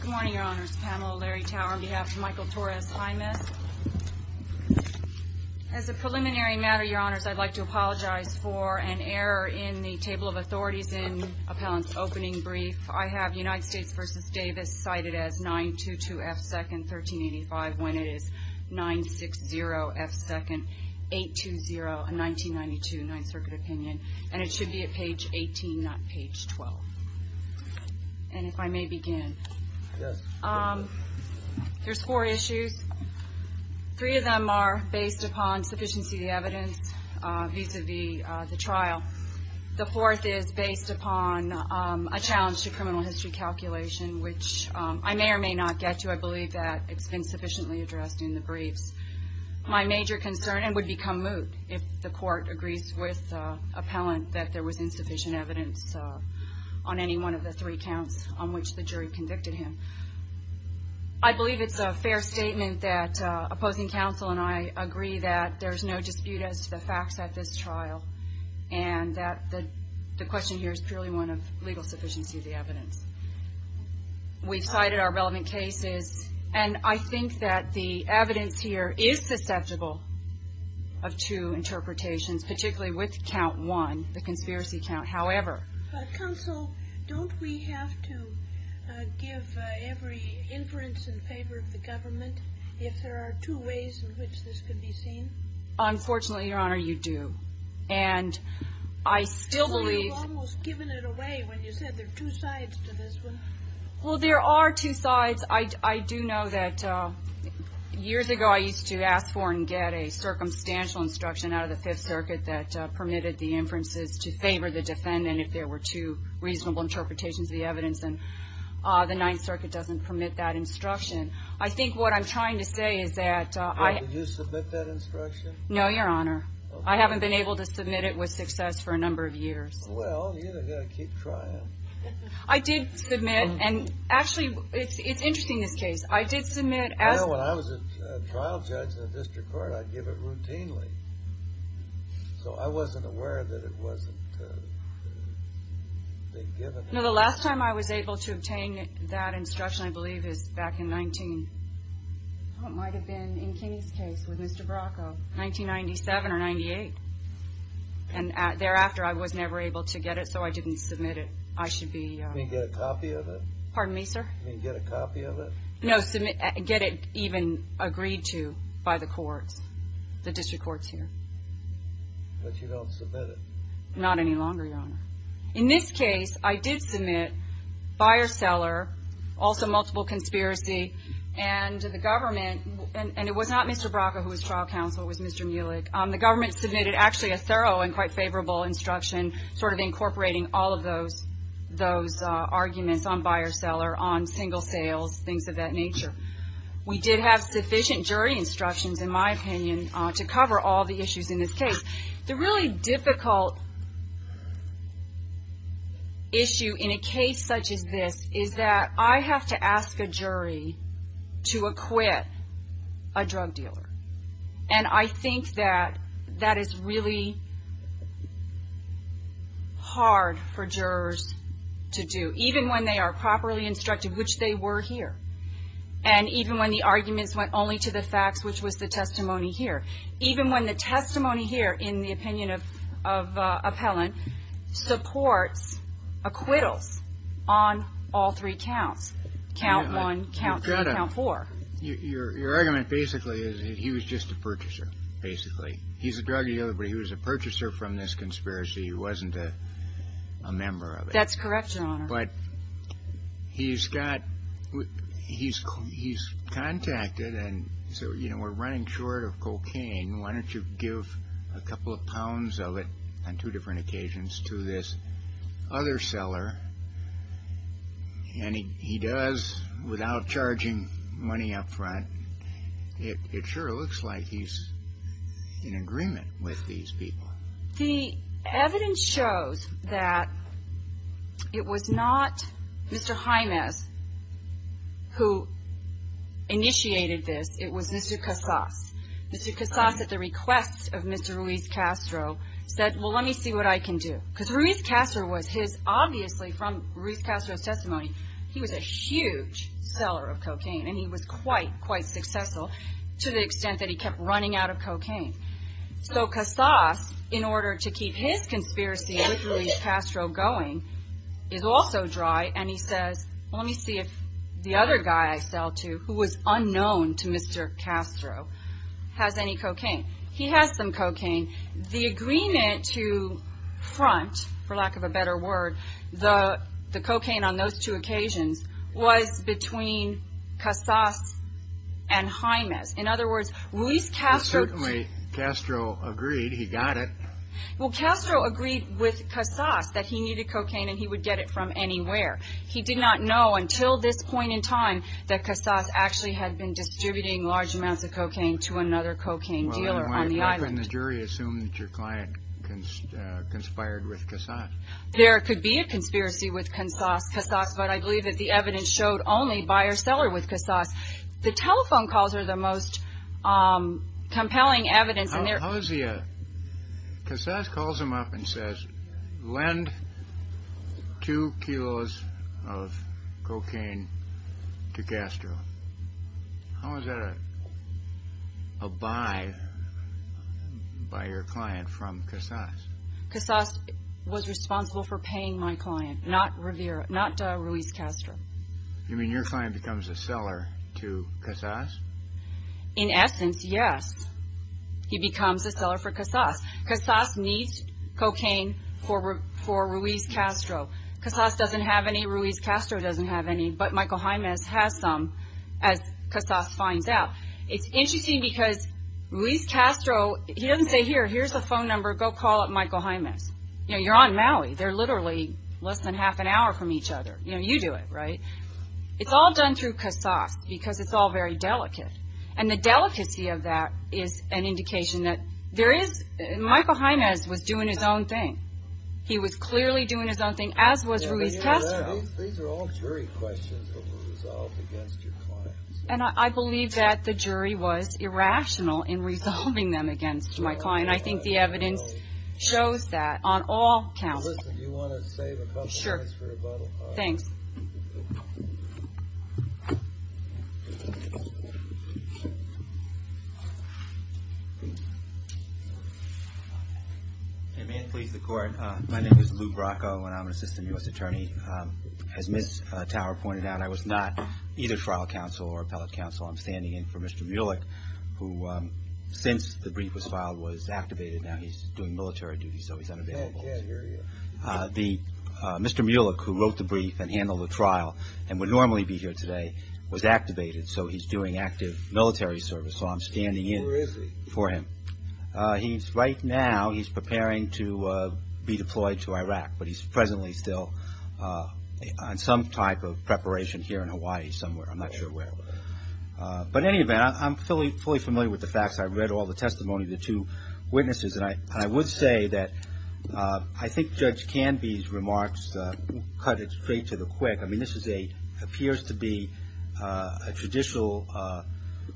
Good morning, Your Honors. Pamela Larry Tower on behalf of Michael Torres Jaimes. As a preliminary matter, Your Honors, I'd like to apologize for an error in the table of authorities in Appellant's opening brief. I have United States v. Davis cited as 922 F. 2nd, 1385 when it is 960 F. 2nd, 820, 1992, 9th Circuit Opinion, and it should be at page 18, not page 12. And if I may begin. Yes. There's four issues. Three of them are based upon sufficiency of the evidence vis-à-vis the trial. The fourth is based upon a challenge to criminal history calculation, which I may or may not get to. I believe that it's been sufficiently addressed in the briefs. My major concern, and would become moot if the court agrees with Appellant that there was insufficient evidence on any one of the three counts on which the jury convicted him. I believe it's a fair statement that opposing counsel and I agree that there's no dispute as to the facts at this trial and that the question here is purely one of legal sufficiency of the evidence. We've cited our relevant cases, and I think that the evidence here is susceptible of two interpretations, particularly with count one, the conspiracy count. However. Counsel, don't we have to give every inference in favor of the government if there are two ways in which this can be seen? Unfortunately, Your Honor, you do. And I still believe you almost given it away when you said there are two sides to this one. Well, there are two sides. I do know that years ago I used to ask for and get a circumstantial instruction out of the Fifth Circuit that permitted the inferences to favor the defendant if there were two reasonable interpretations of the evidence. And the Ninth Circuit doesn't permit that instruction. I think what I'm trying to say is that I. Did you submit that instruction? No, Your Honor. I haven't been able to submit it with success for a number of years. Well, you've got to keep trying. I did submit. And actually, it's interesting, this case. I did submit. Well, when I was a trial judge in the district court, I'd give it routinely. So I wasn't aware that it wasn't being given. No, the last time I was able to obtain that instruction, I believe, is back in 19. It might have been in Kinney's case with Mr. Bracco. 1997 or 98. And thereafter, I was never able to get it, so I didn't submit it. I should be. You didn't get a copy of it? Pardon me, sir? You didn't get a copy of it? No. Get it even agreed to by the courts, the district courts here. But you don't submit it? Not any longer, Your Honor. In this case, I did submit buyer-seller, also multiple conspiracy, and the government. And it was not Mr. Bracco who was trial counsel. It was Mr. Muelig. The government submitted, actually, a thorough and quite favorable instruction, sort of incorporating all of those arguments on buyer-seller, on single sales, things of that nature. We did have sufficient jury instructions, in my opinion, to cover all the issues in this case. The really difficult issue in a case such as this is that I have to ask a jury to acquit a drug dealer. And I think that that is really hard for jurors to do, even when they are properly instructed, which they were here, and even when the arguments went only to the facts, which was the testimony here. Even when the testimony here, in the opinion of Appellant, supports acquittals on all three counts, count one, count three, count four. Your argument, basically, is that he was just a purchaser, basically. He's a drug dealer, but he was a purchaser from this conspiracy. He wasn't a member of it. That's correct, Your Honor. But he's contacted and said, you know, we're running short of cocaine. Why don't you give a couple of pounds of it on two different occasions to this other seller? And he does, without charging money up front. It sure looks like he's in agreement with these people. The evidence shows that it was not Mr. Jimenez who initiated this. It was Mr. Casas. Mr. Casas, at the request of Mr. Ruiz Castro, said, well, let me see what I can do. Because Ruiz Castro was his, obviously, from Ruiz Castro's testimony, he was a huge seller of cocaine. And he was quite, quite successful, to the extent that he kept running out of cocaine. So Casas, in order to keep his conspiracy with Ruiz Castro going, is also dry. And he says, well, let me see if the other guy I sell to, who was unknown to Mr. Castro, has any cocaine. He has some cocaine. The agreement to front, for lack of a better word, the cocaine on those two occasions, was between Casas and Jimenez. In other words, Ruiz Castro. Certainly, Castro agreed. He got it. Well, Castro agreed with Casas that he needed cocaine and he would get it from anywhere. He did not know until this point in time that Casas actually had been distributing large amounts of cocaine to another cocaine dealer on the island. How can the jury assume that your client conspired with Casas? There could be a conspiracy with Casas. But I believe that the evidence showed only buyer-seller with Casas. The telephone calls are the most compelling evidence. Casas calls him up and says, lend two kilos of cocaine to Castro. How is that a buy by your client from Casas? Casas was responsible for paying my client, not Ruiz Castro. You mean your client becomes a seller to Casas? In essence, yes. He becomes a seller for Casas. Casas needs cocaine for Ruiz Castro. Casas doesn't have any, Ruiz Castro doesn't have any, but Michael Jaimes has some, as Casas finds out. It's interesting because Ruiz Castro, he doesn't say, here, here's the phone number, go call up Michael Jaimes. You know, you're on Maui. They're literally less than half an hour from each other. You know, you do it, right? It's all done through Casas because it's all very delicate. And the delicacy of that is an indication that there is, Michael Jaimes was doing his own thing. He was clearly doing his own thing, as was Ruiz Castro. These are all jury questions that were resolved against your client. And I believe that the jury was irrational in resolving them against my client. I think the evidence shows that on all counts. Sure. Thanks. May it please the court. My name is Lou Bracco, and I'm an assistant U.S. attorney. As Ms. Tower pointed out, I was not either trial counsel or appellate counsel. I'm standing in for Mr. Mulek, who since the brief was filed was activated. Now he's doing military duty, so he's unavailable. I can't hear you. Mr. Mulek, who wrote the brief and handled the trial and would normally be here today, was activated. So he's doing active military service. So I'm standing in for him. Where is he? Right now he's preparing to be deployed to Iraq, but he's presently still on some type of preparation here in Hawaii somewhere. I'm not sure where. But in any event, I'm fully familiar with the facts. I've read all the testimony of the two witnesses. And I would say that I think Judge Canby's remarks cut it straight to the quick. I mean, this appears to be a traditional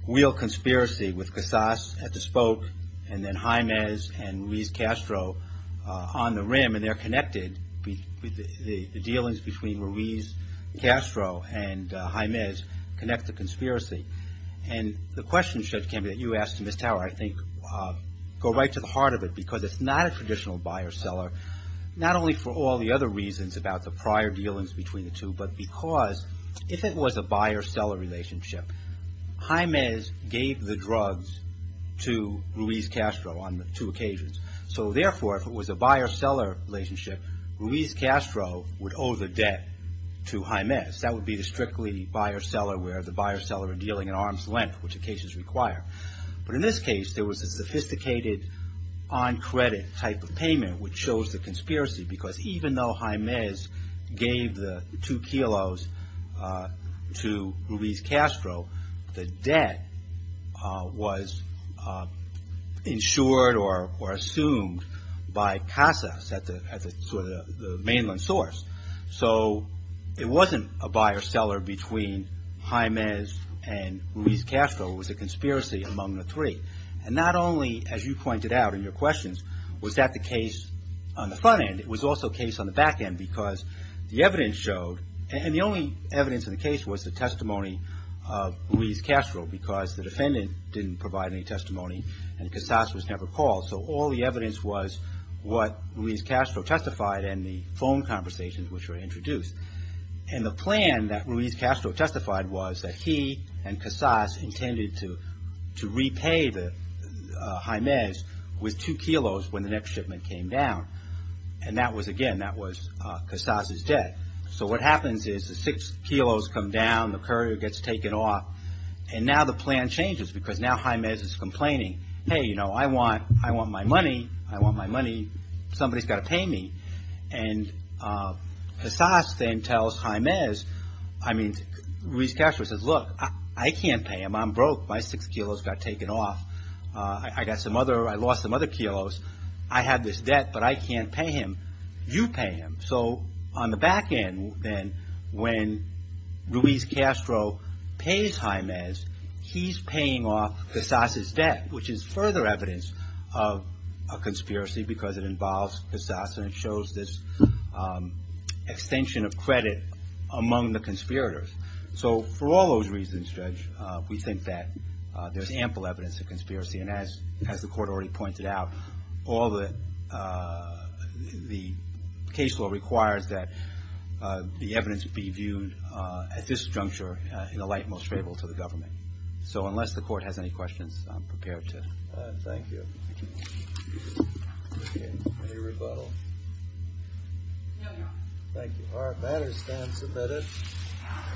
real conspiracy with Casas at the spoke and then Jaimez and Ruiz-Castro on the rim. And they're connected. The dealings between Ruiz-Castro and Jaimez connect the conspiracy. And the question, Judge Canby, that you asked to Ms. Tower, I think go right to the heart of it because it's not a traditional buyer-seller, not only for all the other reasons about the prior dealings between the two, but because if it was a buyer-seller relationship, Jaimez gave the drugs to Ruiz-Castro on two occasions. So therefore, if it was a buyer-seller relationship, Ruiz-Castro would owe the debt to Jaimez. That would be the strictly buyer-seller where the buyer-seller are dealing at arm's length, which occasions require. But in this case, there was a sophisticated on-credit type of payment which shows the conspiracy because even though Jaimez gave the two kilos to Ruiz-Castro, the debt was insured or assumed by Casas at the mainland source. So it wasn't a buyer-seller between Jaimez and Ruiz-Castro. It was a conspiracy among the three. And not only, as you pointed out in your questions, was that the case on the front end, it was also a case on the back end because the evidence showed, and the only evidence in the case was the testimony of Ruiz-Castro because the defendant didn't provide any testimony and Casas was never called. So all the evidence was what Ruiz-Castro testified and the phone conversations which were introduced. And the plan that Ruiz-Castro testified was that he and Casas intended to repay Jaimez with two kilos when the next shipment came down. And that was, again, that was Casas' debt. So what happens is the six kilos come down, the courier gets taken off, and now the plan changes because now Jaimez is complaining. Hey, you know, I want my money. I want my money. Somebody's got to pay me. And Casas then tells Jaimez, I mean, Ruiz-Castro says, look, I can't pay him. I'm broke. My six kilos got taken off. I got some other, I lost some other kilos. I have this debt, but I can't pay him. You pay him. So on the back end, then, when Ruiz-Castro pays Jaimez, he's paying off Casas' debt, which is further evidence of a conspiracy because it involves Casas and it shows this extension of credit among the conspirators. So for all those reasons, Judge, we think that there's ample evidence of conspiracy. And as the court already pointed out, the case law requires that the evidence be viewed at this juncture in the light most favorable to the government. So unless the court has any questions, I'm prepared to. Thank you. Any rebuttal? No, Your Honor. Thank you. All right, matters stand submitted.